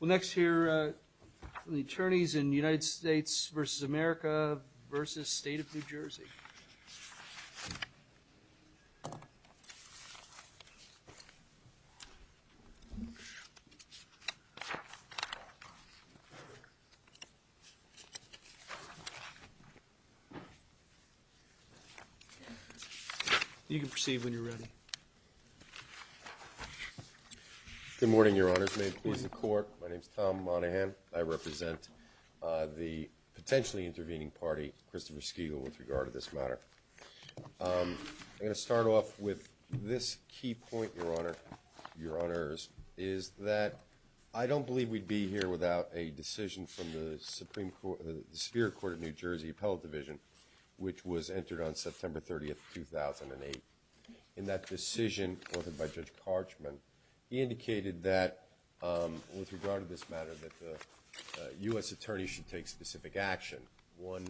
Well, next here are the attorneys in United States v. America v. State of New Jersey. You can proceed when you're ready. Good morning, Your Honors. May it please the Court, my name is Tom Monaghan. I represent the potentially intervening party, Christopher Skegel, with regard to this matter. I'm going to start off with this key point, Your Honors, is that I don't believe we'd be here without a decision from the Superior Court of New Jersey Appellate Division, which was entered on September 30th, 2008. In that decision authored by Judge Karchman, he indicated that, with regard to this matter, that the U.S. attorneys should take specific action. One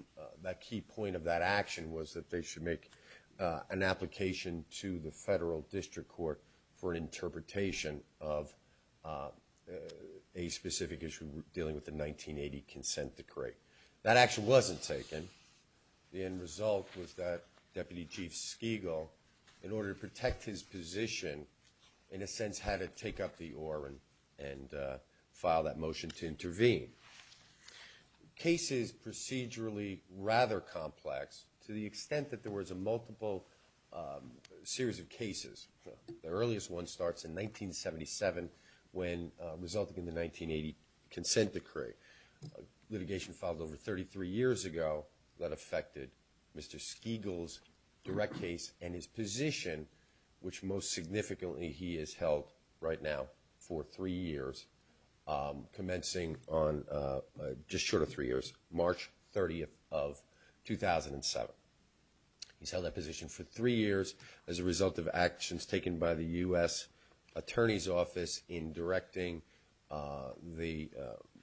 key point of that action was that they should make an application to the federal district court for an interpretation of a specific issue dealing with the 1980 consent decree. That action wasn't taken. The end result was that Deputy Chief Skegel, in order to protect his position, in a sense had to take up the oar and file that motion to intervene. The case is procedurally rather complex to the extent that there was a multiple series of cases. The earliest one starts in 1977 when resulting in the 1980 consent decree. A litigation filed over 33 years ago that affected Mr. Skegel's direct case and his position, which most significantly he has held right now for three years, commencing on just short of three years, March 30th of 2007. He's held that position for three years as a result of actions taken by the U.S. Attorney's Office in directing the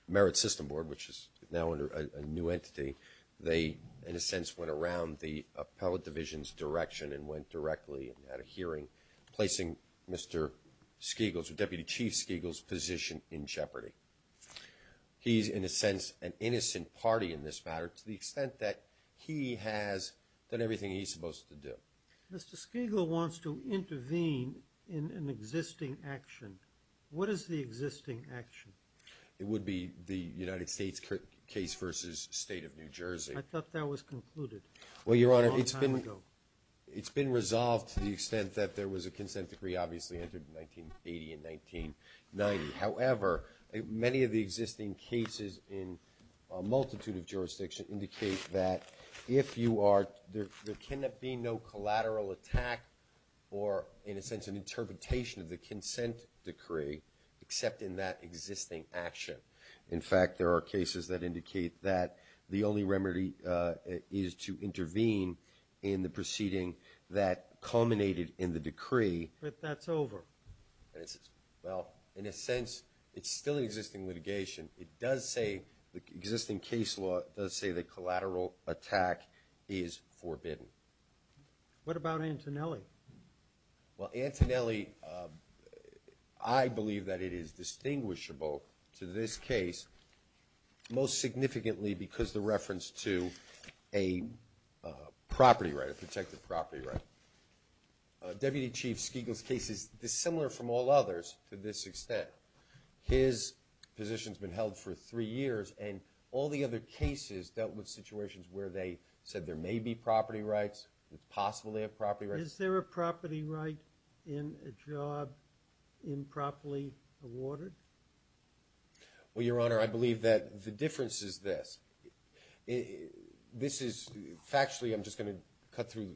Merit System Board, which is now under a new entity. They, in a sense, went around the Appellate Division's direction and went directly at a hearing, placing Mr. Skegel's, or Deputy Chief Skegel's, position in jeopardy. He's, in a sense, an innocent party in this matter to the extent that he has done everything he's supposed to do. Mr. Skegel wants to intervene in an existing action. What is the existing action? It would be the United States case versus State of New Jersey. I thought that was concluded a long time ago. Well, Your Honor, it's been resolved to the extent that there was a consent decree obviously entered in 1980 and 1990. However, many of the existing cases in a multitude of jurisdictions indicate that if you are – there cannot be no collateral attack or, in a sense, an interpretation of the consent decree except in that existing action. In fact, there are cases that indicate that the only remedy is to intervene in the proceeding that culminated in the decree. But that's over. Well, in a sense, it's still an existing litigation. It does say – the existing case law does say that collateral attack is forbidden. What about Antonelli? Well, Antonelli, I believe that it is distinguishable to this case, most significantly because the reference to a property right, a protected property right. Deputy Chief Skegel's case is dissimilar from all others to this extent. His position has been held for three years, and all the other cases dealt with situations where they said there may be property rights. It's possible they have property rights. Is there a property right in a job improperly awarded? Well, Your Honor, I believe that the difference is this. This is – factually, I'm just going to cut through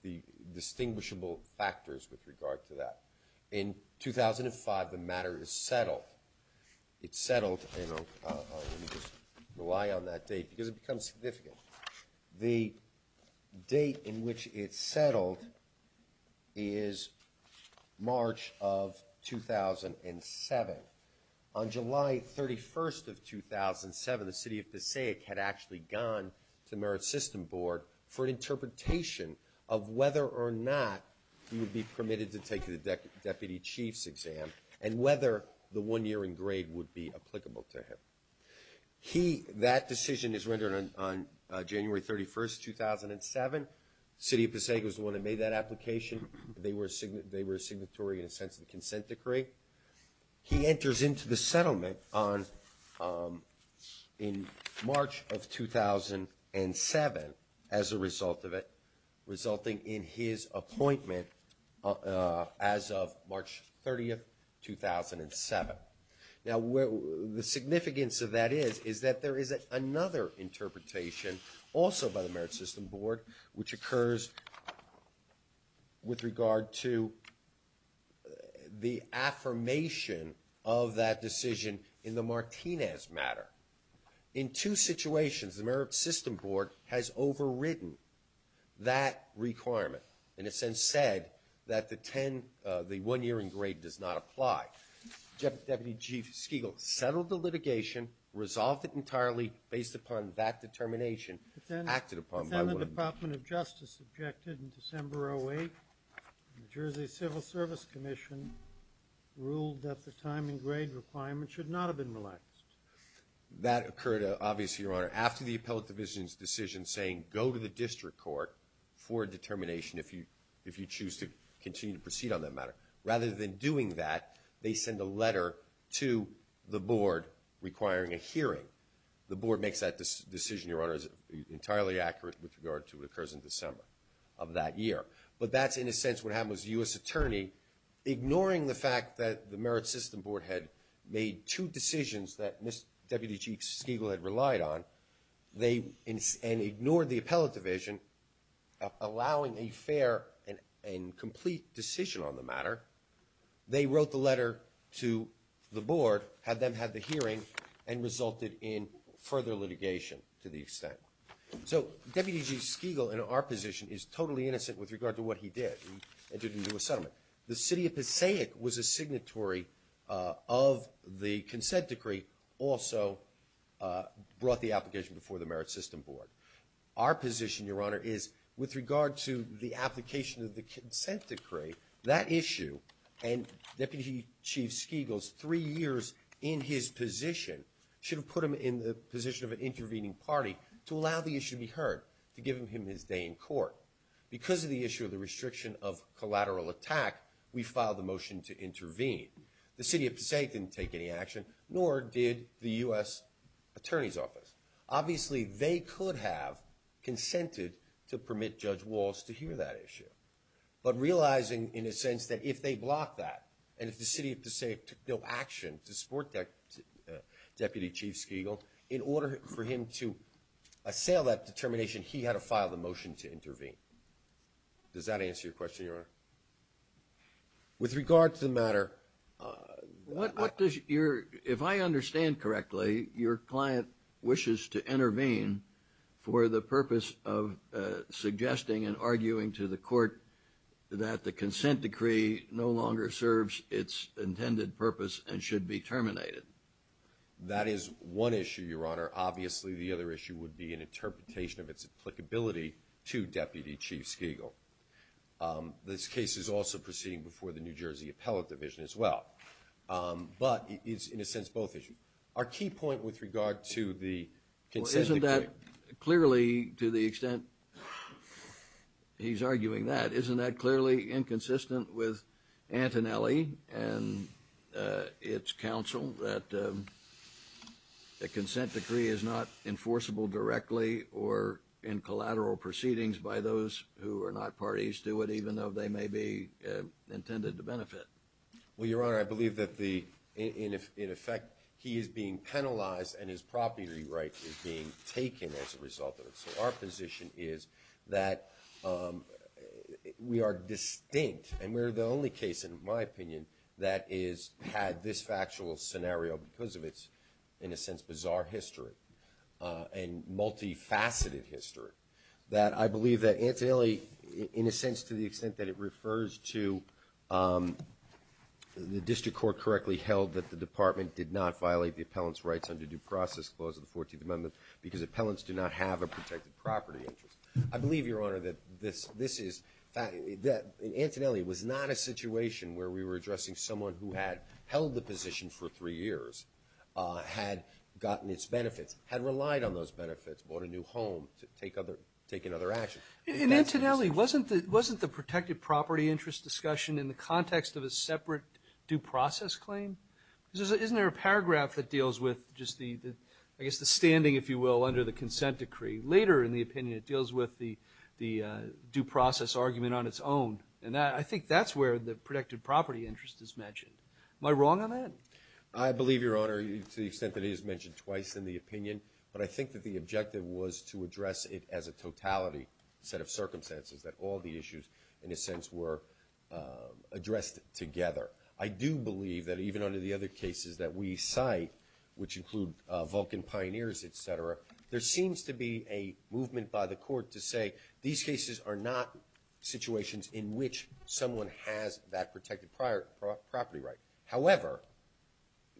the distinguishable factors with regard to that. In 2005, the matter is settled. It's settled, and I'll just rely on that date because it becomes significant. The date in which it's settled is March of 2007. On July 31st of 2007, the city of Passaic had actually gone to the Merit System Board for an interpretation of whether or not he would be permitted to take the deputy chief's exam and whether the one year in grade would be applicable to him. He – that decision is rendered on January 31st, 2007. The city of Passaic was the one that made that application. They were a signatory in a sense of the consent decree. He enters into the settlement on – in March of 2007 as a result of it, resulting in his appointment as of March 30th, 2007. Now, the significance of that is is that there is another interpretation also by the Merit System Board which occurs with regard to the affirmation of that decision in the Martinez matter. In two situations, the Merit System Board has overridden that requirement and has since said that the 10 – the one year in grade does not apply. Deputy Chief Skegel settled the litigation, resolved it entirely based upon that determination, acted upon by – But then the Department of Justice objected in December of 2008. The Jersey Civil Service Commission ruled that the time in grade requirement should not have been relaxed. That occurred, obviously, Your Honor, after the appellate division's decision saying go to the district court for a determination if you choose to continue to proceed on that matter. Rather than doing that, they send a letter to the board requiring a hearing. The board makes that decision, Your Honor, entirely accurate with regard to what occurs in December of that year. But that's, in a sense, what happened was the U.S. attorney, ignoring the fact that the Merit System Board had made two decisions that Deputy Chief Skegel had relied on, they – and ignored the appellate division, allowing a fair and complete decision on the matter, they wrote the letter to the board, had them have the hearing, and resulted in further litigation to the extent. So Deputy Chief Skegel, in our position, is totally innocent with regard to what he did. He entered into a settlement. The city of Passaic was a signatory of the consent decree, also brought the application before the Merit System Board. Our position, Your Honor, is with regard to the application of the consent decree, that issue and Deputy Chief Skegel's three years in his position should have put him in the position of an intervening party to allow the issue to be heard, to give him his day in court. Because of the issue of the restriction of collateral attack, we filed the motion to intervene. The city of Passaic didn't take any action, nor did the U.S. attorney's office. Obviously, they could have consented to permit Judge Walz to hear that issue. But realizing, in a sense, that if they blocked that, and if the city of Passaic took no action to support Deputy Chief Skegel, in order for him to assail that determination, he had to file the motion to intervene. With regard to the matter, What does your, if I understand correctly, your client wishes to intervene for the purpose of suggesting and arguing to the court that the consent decree no longer serves its intended purpose and should be terminated? That is one issue, Your Honor. Obviously, the other issue would be an interpretation of its applicability to Deputy Chief Skegel. This case is also proceeding before the New Jersey Appellate Division as well. But it's, in a sense, both issues. Our key point with regard to the consent decree Well, isn't that clearly, to the extent he's arguing that, isn't that clearly inconsistent with Antonelli and its counsel that a consent decree is not enforceable directly or in collateral proceedings by those who are not parties to it, even though they may be intended to benefit? Well, Your Honor, I believe that the, in effect, he is being penalized and his property right is being taken as a result of it. So our position is that we are distinct, and we're the only case, in my opinion, that has had this factual scenario because of its, in a sense, bizarre history and multifaceted history, that I believe that Antonelli, in a sense, to the extent that it refers to the district court correctly held that the department did not violate the appellant's rights under due process clause of the 14th Amendment because appellants do not have a protected property interest. I believe, Your Honor, that this, this is, that Antonelli was not a situation where we were addressing someone who had held the position for three years, had gotten its benefits, had relied on those benefits, bought a new home to take other, take another action. In Antonelli, wasn't the, wasn't the protected property interest discussion in the context of a separate due process claim? Isn't there a paragraph that deals with just the, I guess the standing, if you will, under the consent decree? Later in the opinion, it deals with the due process argument on its own, and I think that's where the protected property interest is mentioned. Am I wrong on that? I believe, Your Honor, to the extent that it is mentioned twice in the opinion, but I think that the objective was to address it as a totality set of circumstances, that all the issues, in a sense, were addressed together. I do believe that even under the other cases that we cite, which include Vulcan Pioneers, et cetera, there seems to be a movement by the court to say, these cases are not situations in which someone has that protected property right. However,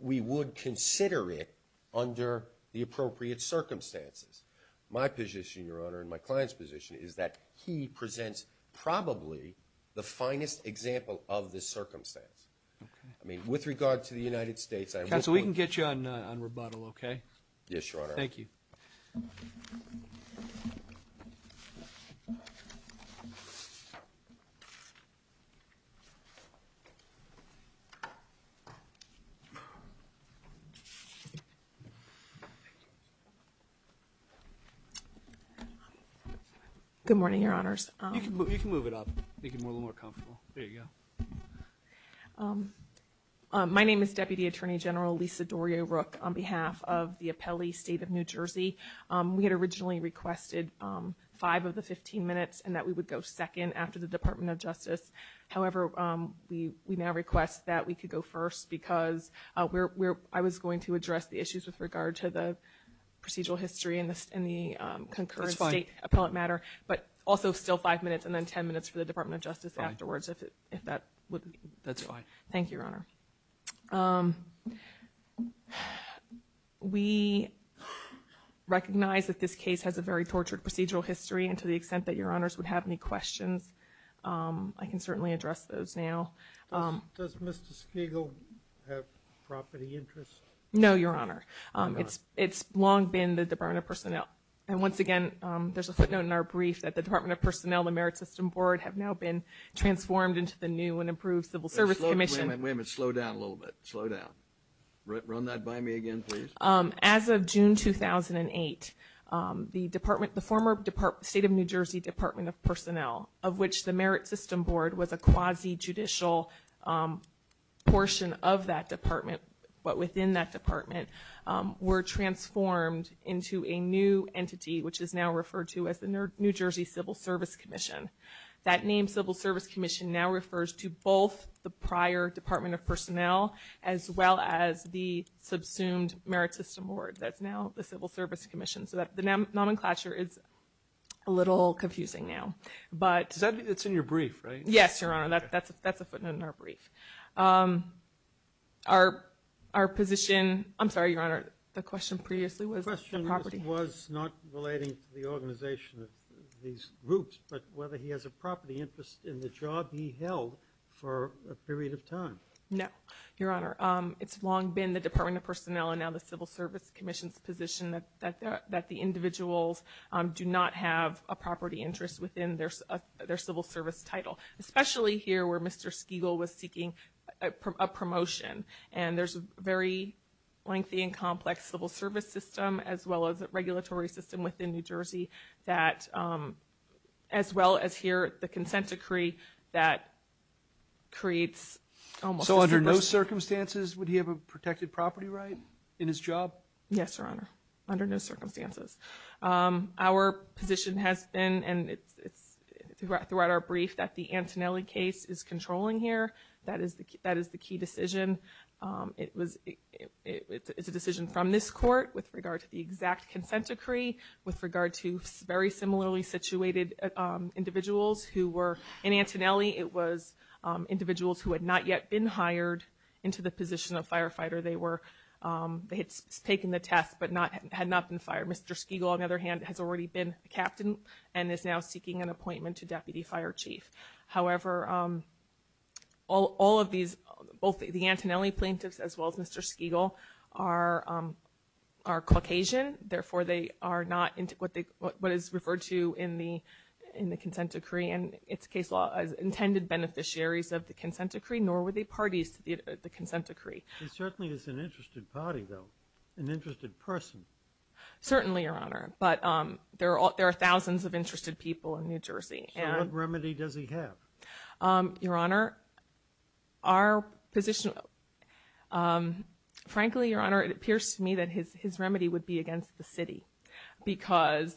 we would consider it under the appropriate circumstances. My position, Your Honor, and my client's position is that he presents probably the finest example of this circumstance. Okay. I mean, with regard to the United States, I would. Counsel, we can get you on rebuttal, okay? Yes, Your Honor. Thank you. Good morning, Your Honors. You can move it up. Make it a little more comfortable. There you go. My name is Deputy Attorney General Lisa Dorio-Rook on behalf of the Appellee State of New Jersey. We had originally requested five of the 15 minutes and that we would go second after the Department of Justice. However, we now request that we could go first because I was going to address the issues with regard to the procedural history and the concurrent state appellate matter, but also still five minutes, and then 10 minutes for the Department of Justice afterwards if that would be. That's fine. Thank you, Your Honor. We recognize that this case has a very tortured procedural history, and to the extent that Your Honors would have any questions, I can certainly address those now. Does Mr. Skegel have property interests? No, Your Honor. Oh, God. It's long been the Department of Personnel. And once again, there's a footnote in our brief that the Department of Personnel, the Merit System Board, have now been transformed into the new and improved Civil Service Commission. Wait a minute. Slow down a little bit. Slow down. Run that by me again, please. As of June 2008, the former State of New Jersey Department of Personnel, of which the Merit System Board was a quasi-judicial portion of that department, but within that department, were transformed into a new entity, which is now referred to as the New Jersey Civil Service Commission. That name, Civil Service Commission, now refers to both the prior Department of Personnel as well as the subsumed Merit System Board. That's now the Civil Service Commission. So the nomenclature is a little confusing now. Does that mean it's in your brief, right? Yes, Your Honor. That's a footnote in our brief. Our position, I'm sorry, Your Honor, the question previously was the property. The question was not relating to the organization of these groups, but whether he has a property interest in the job he held for a period of time. No, Your Honor. It's long been the Department of Personnel and now the Civil Service Commission's position that the individuals do not have a property interest within their civil service title, especially here where Mr. Skeegle was seeking a promotion. And there's a very lengthy and complex civil service system as well as a regulatory system within New Jersey that, as well as here, the consent decree that creates almost a superstition. So under no circumstances would he have a protected property right in his job? Yes, Your Honor, under no circumstances. Our position has been, and it's throughout our brief, that the Antonelli case is controlling here. That is the key decision. It was a decision from this court with regard to the exact consent decree, with regard to very similarly situated individuals who were in Antonelli. It was individuals who had not yet been hired into the position of firefighter. They had taken the test but had not been fired. Mr. Skeegle, on the other hand, has already been a captain and is now seeking an appointment to deputy fire chief. However, all of these, both the Antonelli plaintiffs as well as Mr. Skeegle, are Caucasian. Therefore, they are not what is referred to in the consent decree. And its case law intended beneficiaries of the consent decree, nor were they parties to the consent decree. He certainly is an interested party, though, an interested person. Certainly, Your Honor, but there are thousands of interested people in New Jersey. So what remedy does he have? Your Honor, our position, frankly, Your Honor, it appears to me that his remedy would be against the city because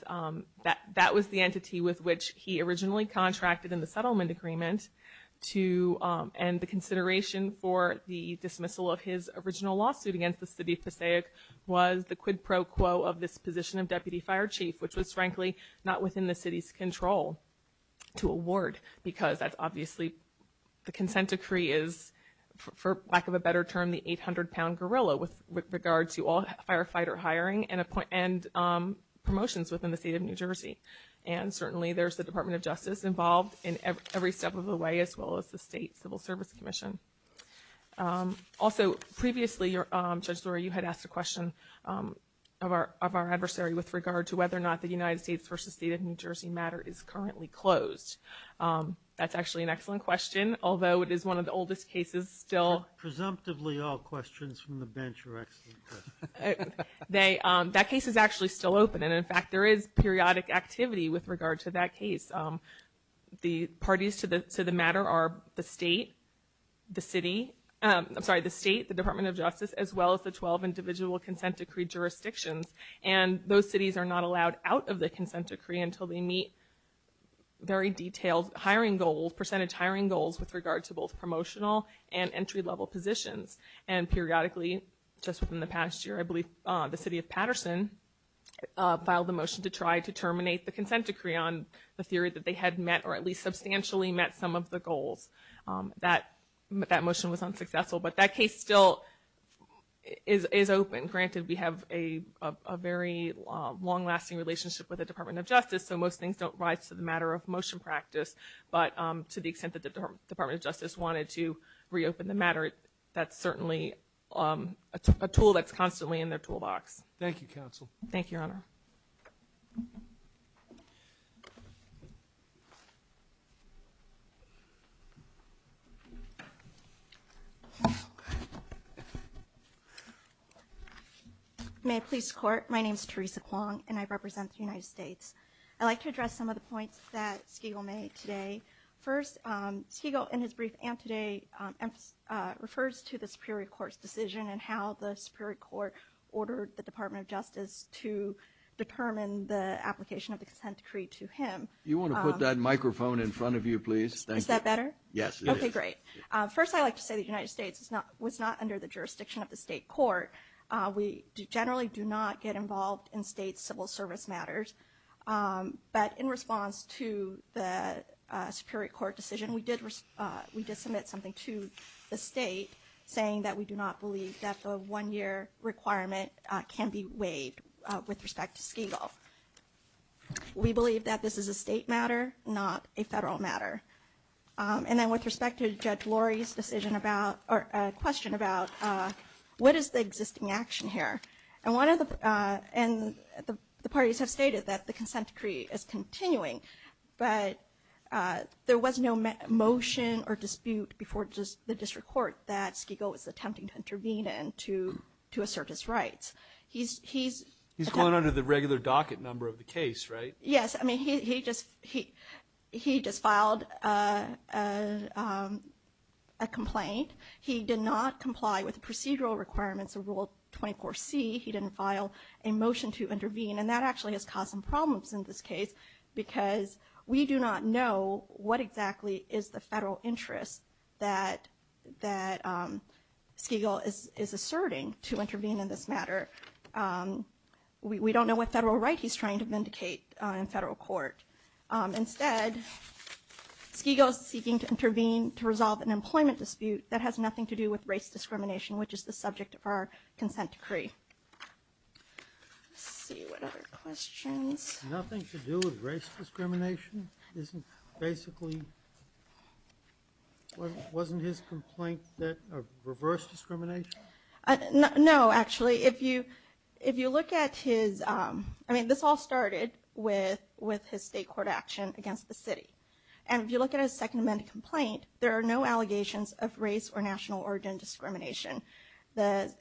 that was the entity with which he originally contracted in the settlement agreement and the consideration for the dismissal of his original lawsuit against the city of Passaic was the quid pro quo of this position of deputy fire chief, which was, frankly, not within the city's control to award because that's obviously the consent decree is, for lack of a better term, the 800-pound gorilla with regard to all firefighter hiring and promotions within the state of New Jersey. And certainly, there's the Department of Justice involved in every step of the way, as well as the State Civil Service Commission. Also, previously, Judge Lurie, you had asked a question of our adversary with regard to whether or not the United States v. State of New Jersey matter is currently closed. That's actually an excellent question, although it is one of the oldest cases still. Presumptively, all questions from the bench are excellent questions. That case is actually still open. And, in fact, there is periodic activity with regard to that case. The parties to the matter are the State, the Department of Justice, as well as the 12 individual consent decree jurisdictions. And those cities are not allowed out of the consent decree until they meet very detailed percentage hiring goals with regard to both promotional and entry-level positions. And periodically, just from the past year, I believe the city of Patterson filed a motion to try to terminate the consent decree on the theory that they had met or at least substantially met some of the goals. That motion was unsuccessful, but that case still is open. Granted, we have a very long-lasting relationship with the Department of Justice, so most things don't rise to the matter of motion practice. But to the extent that the Department of Justice wanted to reopen the matter, that's certainly a tool that's constantly in their toolbox. Thank you, Counsel. Thank you, Your Honor. May I please court? My name is Teresa Kwong, and I represent the United States. I'd like to address some of the points that Skegel made today. First, Skegel, in his brief antedate, refers to the Superior Court's decision and how the Superior Court ordered the Department of Justice to determine the application of the consent decree to him. You want to put that microphone in front of you, please? Is that better? Yes, it is. Okay, great. First, I'd like to say the United States was not under the jurisdiction of the state court. We generally do not get involved in state civil service matters. But in response to the Superior Court decision, we did submit something to the state saying that we do not believe that the one-year requirement can be waived with respect to Skegel. We believe that this is a state matter, not a federal matter. And then with respect to Judge Lurie's question about what is the existing action here, and the parties have stated that the consent decree is continuing, but there was no motion or dispute before the district court that Skegel was attempting to intervene and to assert his rights. He's going under the regular docket number of the case, right? Yes. I mean, he just filed a complaint. He did not comply with the procedural requirements of Rule 24C. He didn't file a motion to intervene. And that actually has caused some problems in this case because we do not know what exactly is the federal interest that Skegel is asserting to intervene in this matter. We don't know what federal right he's trying to vindicate in federal court. Instead, Skegel is seeking to intervene to resolve an employment dispute that has nothing to do with race discrimination, which is the subject of our consent decree. Let's see, what other questions? Nothing to do with race discrimination? Isn't basically, wasn't his complaint that reverse discrimination? No, actually. If you look at his, I mean, this all started with his state court action against the city. And if you look at his second amended complaint, there are no allegations of race or national origin discrimination. The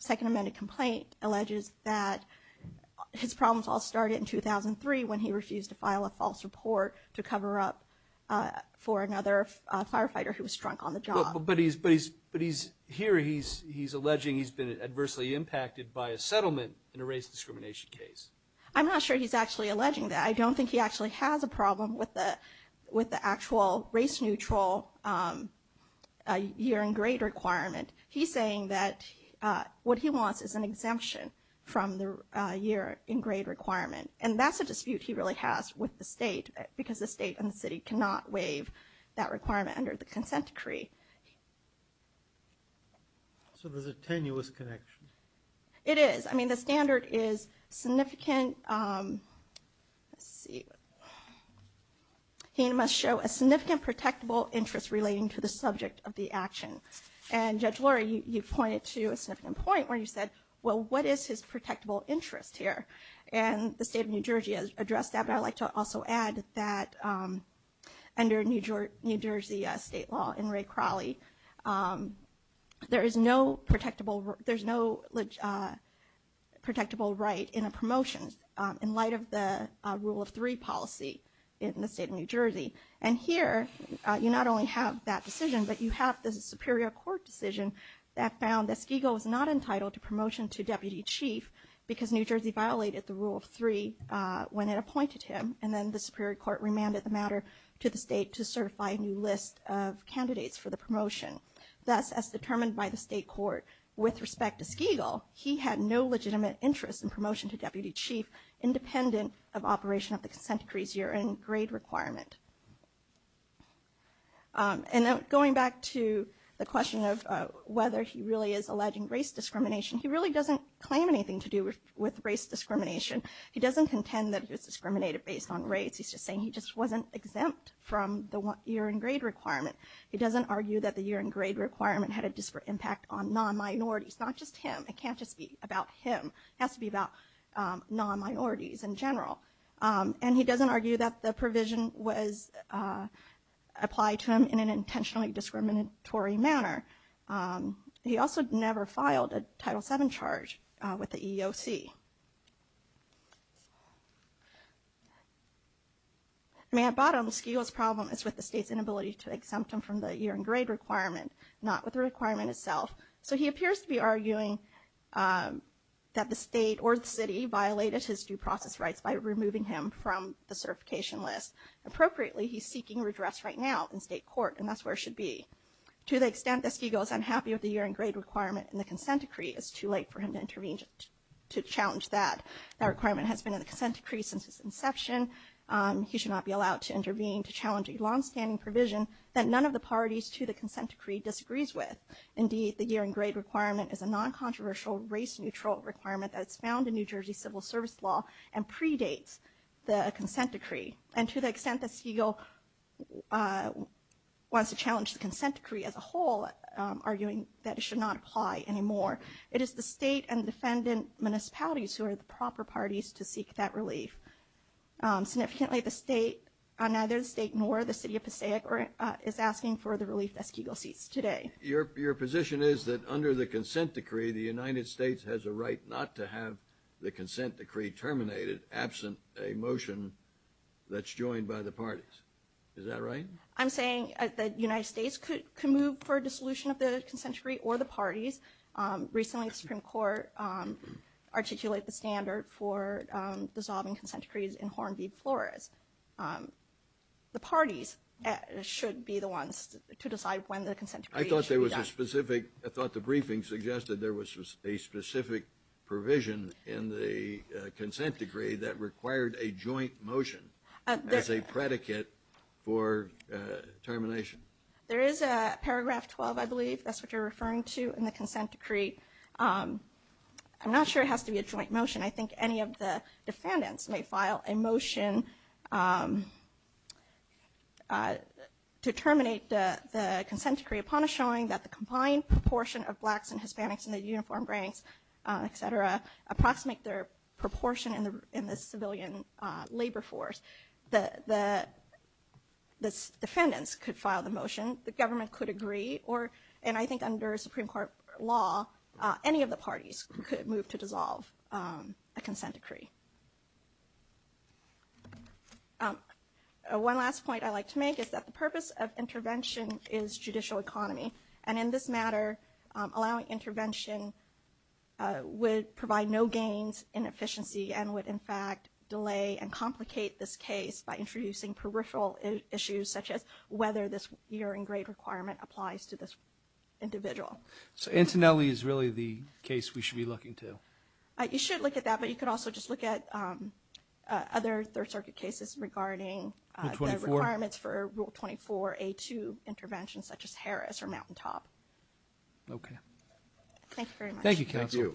second amended complaint alleges that his problems all started in 2003 when he refused to file a false report to cover up for another firefighter who was drunk on the job. But here he's alleging he's been adversely impacted by a settlement in a race discrimination case. I'm not sure he's actually alleging that. I don't think he actually has a problem with the actual race neutral year and grade requirement. He's saying that what he wants is an exemption from the year and grade requirement. And that's a dispute he really has with the state because the state and the city cannot waive that requirement under the consent decree. So there's a tenuous connection. It is. I mean, the standard is significant. Let's see. He must show a significant protectable interest relating to the subject of the action. And Judge Lori, you pointed to a significant point where you said, well, what is his protectable interest here? And the state of New Jersey has addressed that. I'd like to also add that under New Jersey state law, in Ray Crowley, there is no protectable right in a promotion in light of the rule of three policy in the state of New Jersey. And here you not only have that decision, but you have the superior court decision that found that Skegel was not entitled to promotion to deputy chief because New Jersey violated the rule of three when it appointed him. And then the superior court remanded the matter to the state to certify a new list of candidates for the promotion. Thus, as determined by the state court with respect to Skegel, he had no legitimate interest in promotion to deputy chief independent of operation of the consent decree's year and grade requirement. And going back to the question of whether he really is alleging race discrimination, he really doesn't claim anything to do with race discrimination. He doesn't contend that he was discriminated based on race. He's just saying he just wasn't exempt from the year and grade requirement. He doesn't argue that the year and grade requirement had a disparate impact on non-minorities, not just him. It can't just be about him. It has to be about non-minorities in general. And he doesn't argue that the provision was applied to him in an intentionally discriminatory manner. He also never filed a Title VII charge with the EEOC. I mean, at bottom, Skegel's problem is with the state's inability to exempt him from the year and grade requirement, not with the requirement itself. So he appears to be arguing that the state or the city violated his due process rights by removing him from the certification list. Appropriately, he's seeking redress right now in state court, and that's where he should be. To the extent that Skegel is unhappy with the year and grade requirement and the consent decree, it's too late for him to intervene to challenge that. That requirement has been in the consent decree since its inception. He should not be allowed to intervene to challenge a longstanding provision that none of the parties to the consent decree disagrees with. Indeed, the year and grade requirement is a non-controversial, race-neutral requirement that's found in New Jersey civil service law and predates the consent decree. And to the extent that Skegel wants to challenge the consent decree as a whole, arguing that it should not apply anymore, it is the state and defendant municipalities who are the proper parties to seek that relief. Significantly, neither the state nor the city of Passaic is asking for the relief that Skegel seeks today. Your position is that under the consent decree, the United States has a right not to have the consent decree terminated absent a motion that's joined by the parties. Is that right? I'm saying that the United States could move for dissolution of the consent decree or the parties. Recently, the Supreme Court articulated the standard for dissolving consent decrees in Hornby Flores. The parties should be the ones to decide when the consent decree should be done. I thought there was a specific – I thought the briefing suggested there was a specific provision in the consent decree that required a joint motion as a predicate for termination. There is a paragraph 12, I believe, that's what you're referring to, in the consent decree. I'm not sure it has to be a joint motion. I think any of the defendants may file a motion to terminate the consent decree upon a showing that the combined proportion of blacks and Hispanics in the uniform ranks, et cetera, approximate their proportion in the civilian labor force. The defendants could file the motion. The government could agree. I think under Supreme Court law, any of the parties could move to dissolve a consent decree. One last point I'd like to make is that the purpose of intervention is judicial economy. In this matter, allowing intervention would provide no gains in efficiency and would, in fact, delay and complicate this case by introducing peripheral issues such as whether this year-in-grade requirement applies to this individual. So Antonelli is really the case we should be looking to? You should look at that, but you could also just look at other Third Circuit cases regarding the requirements for Rule 24, A2 interventions such as Harris or Mountaintop. Okay. Thank you very much. Thank you, Counsel.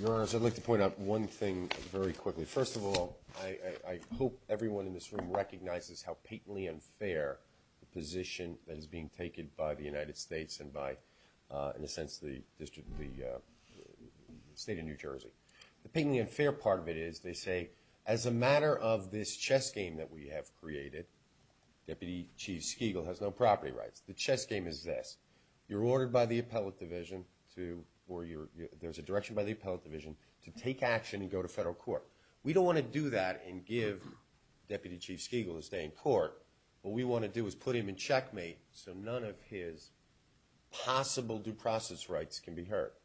Your Honors, I'd like to point out one thing very quickly. First of all, I hope everyone in this room recognizes how patently unfair the position that is being taken by the United States and by, in a sense, the State of New Jersey. The patently unfair part of it is they say, as a matter of this chess game that we have created, Deputy Chief Skegel has no property rights. The chess game is this. You're ordered by the appellate division to or there's a direction by the appellate division to take action and go to federal court. We don't want to do that and give Deputy Chief Skegel to stay in court. What we want to do is put him in checkmate so none of his possible due process rights can be hurt.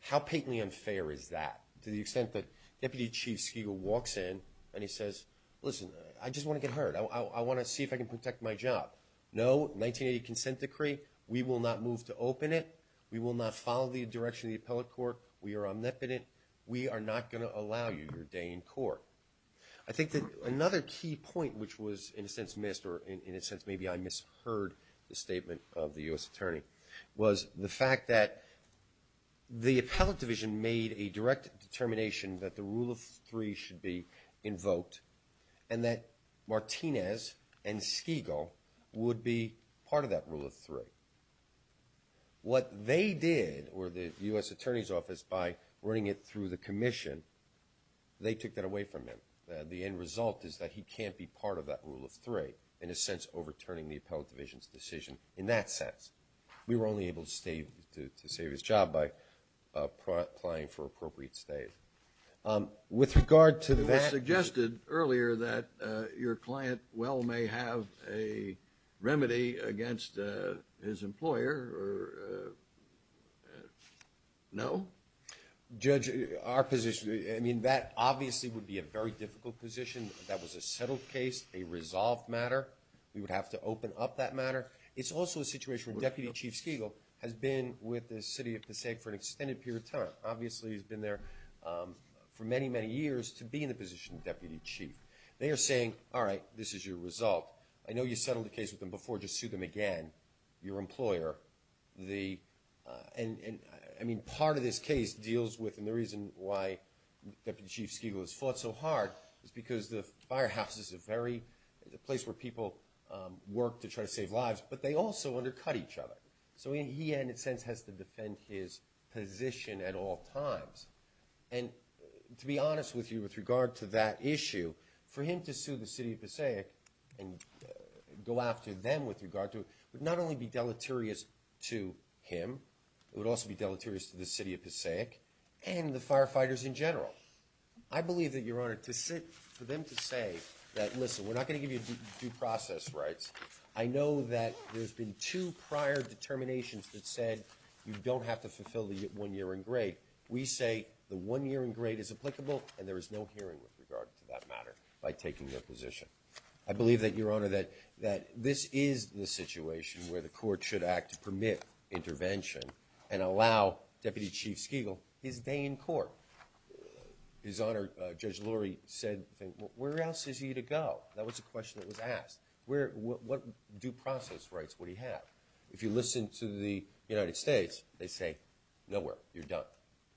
How patently unfair is that to the extent that Deputy Chief Skegel walks in and he says, listen, I just want to get hurt. I want to see if I can protect my job. No, 1980 consent decree, we will not move to open it. We will not follow the direction of the appellate court. We are omnipotent. We are not going to allow you your day in court. I think that another key point which was in a sense missed or in a sense maybe I misheard the statement of the U.S. Attorney was the fact that the appellate division made a direct determination that the rule of three should be invoked and that Martinez and Skegel would be part of that rule of three. What they did or the U.S. Attorney's Office by running it through the commission, they took that away from him. The end result is that he can't be part of that rule of three, in a sense overturning the appellate division's decision in that sense. We were only able to save his job by applying for appropriate stays. With regard to that. You suggested earlier that your client well may have a remedy against his employer or no? Judge, our position, I mean that obviously would be a very difficult position. That was a settled case, a resolved matter. We would have to open up that matter. It's also a situation where Deputy Chief Skegel has been with the city of Passaic for an extended period of time. Obviously he's been there for many, many years to be in the position of Deputy Chief. They are saying, all right, this is your result. I know you settled the case with them before. Just sue them again, your employer. And I mean part of this case deals with and the reason why Deputy Chief Skegel has fought so hard is because the firehouse is a very, a place where people work to try to save lives, but they also undercut each other. So he in a sense has to defend his position at all times. And to be honest with you with regard to that issue, for him to sue the city of Passaic and go after them with regard to it, would not only be deleterious to him, it would also be deleterious to the city of Passaic and the firefighters in Passaic. I believe that your Honor, to sit for them to say that, listen, we're not going to give you due process rights. I know that there's been two prior determinations that said you don't have to fulfill the one year in grade. We say the one year in grade is applicable and there is no hearing with regard to that matter by taking their position. I believe that your Honor, that this is the situation where the court should act to permit intervention and allow Deputy Chief Skegel his day in court. His Honor, Judge Lurie said, where else is he to go? That was a question that was asked. What due process rights would he have? If you listen to the United States, they say, nowhere, you're done.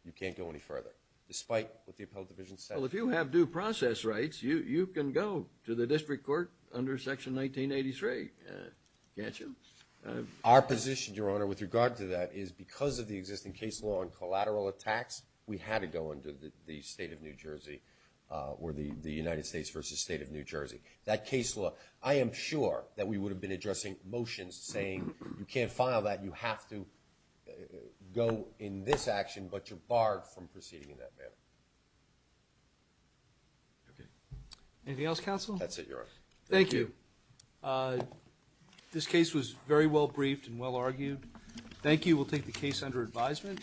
You can't go any further, despite what the appellate division said. Well, if you have due process rights, you can go to the district court under section 1983, can't you? Our position, your Honor, with regard to that is because of the existing case law and collateral attacks, we had to go under the State of New Jersey, or the United States versus State of New Jersey. That case law, I am sure that we would have been addressing motions saying you can't file that, you have to go in this action, but you're barred from proceeding in that manner. Anything else, Counsel? That's it, your Honor. Thank you. This case was very well briefed and well argued. Thank you. We'll take the case under advisement.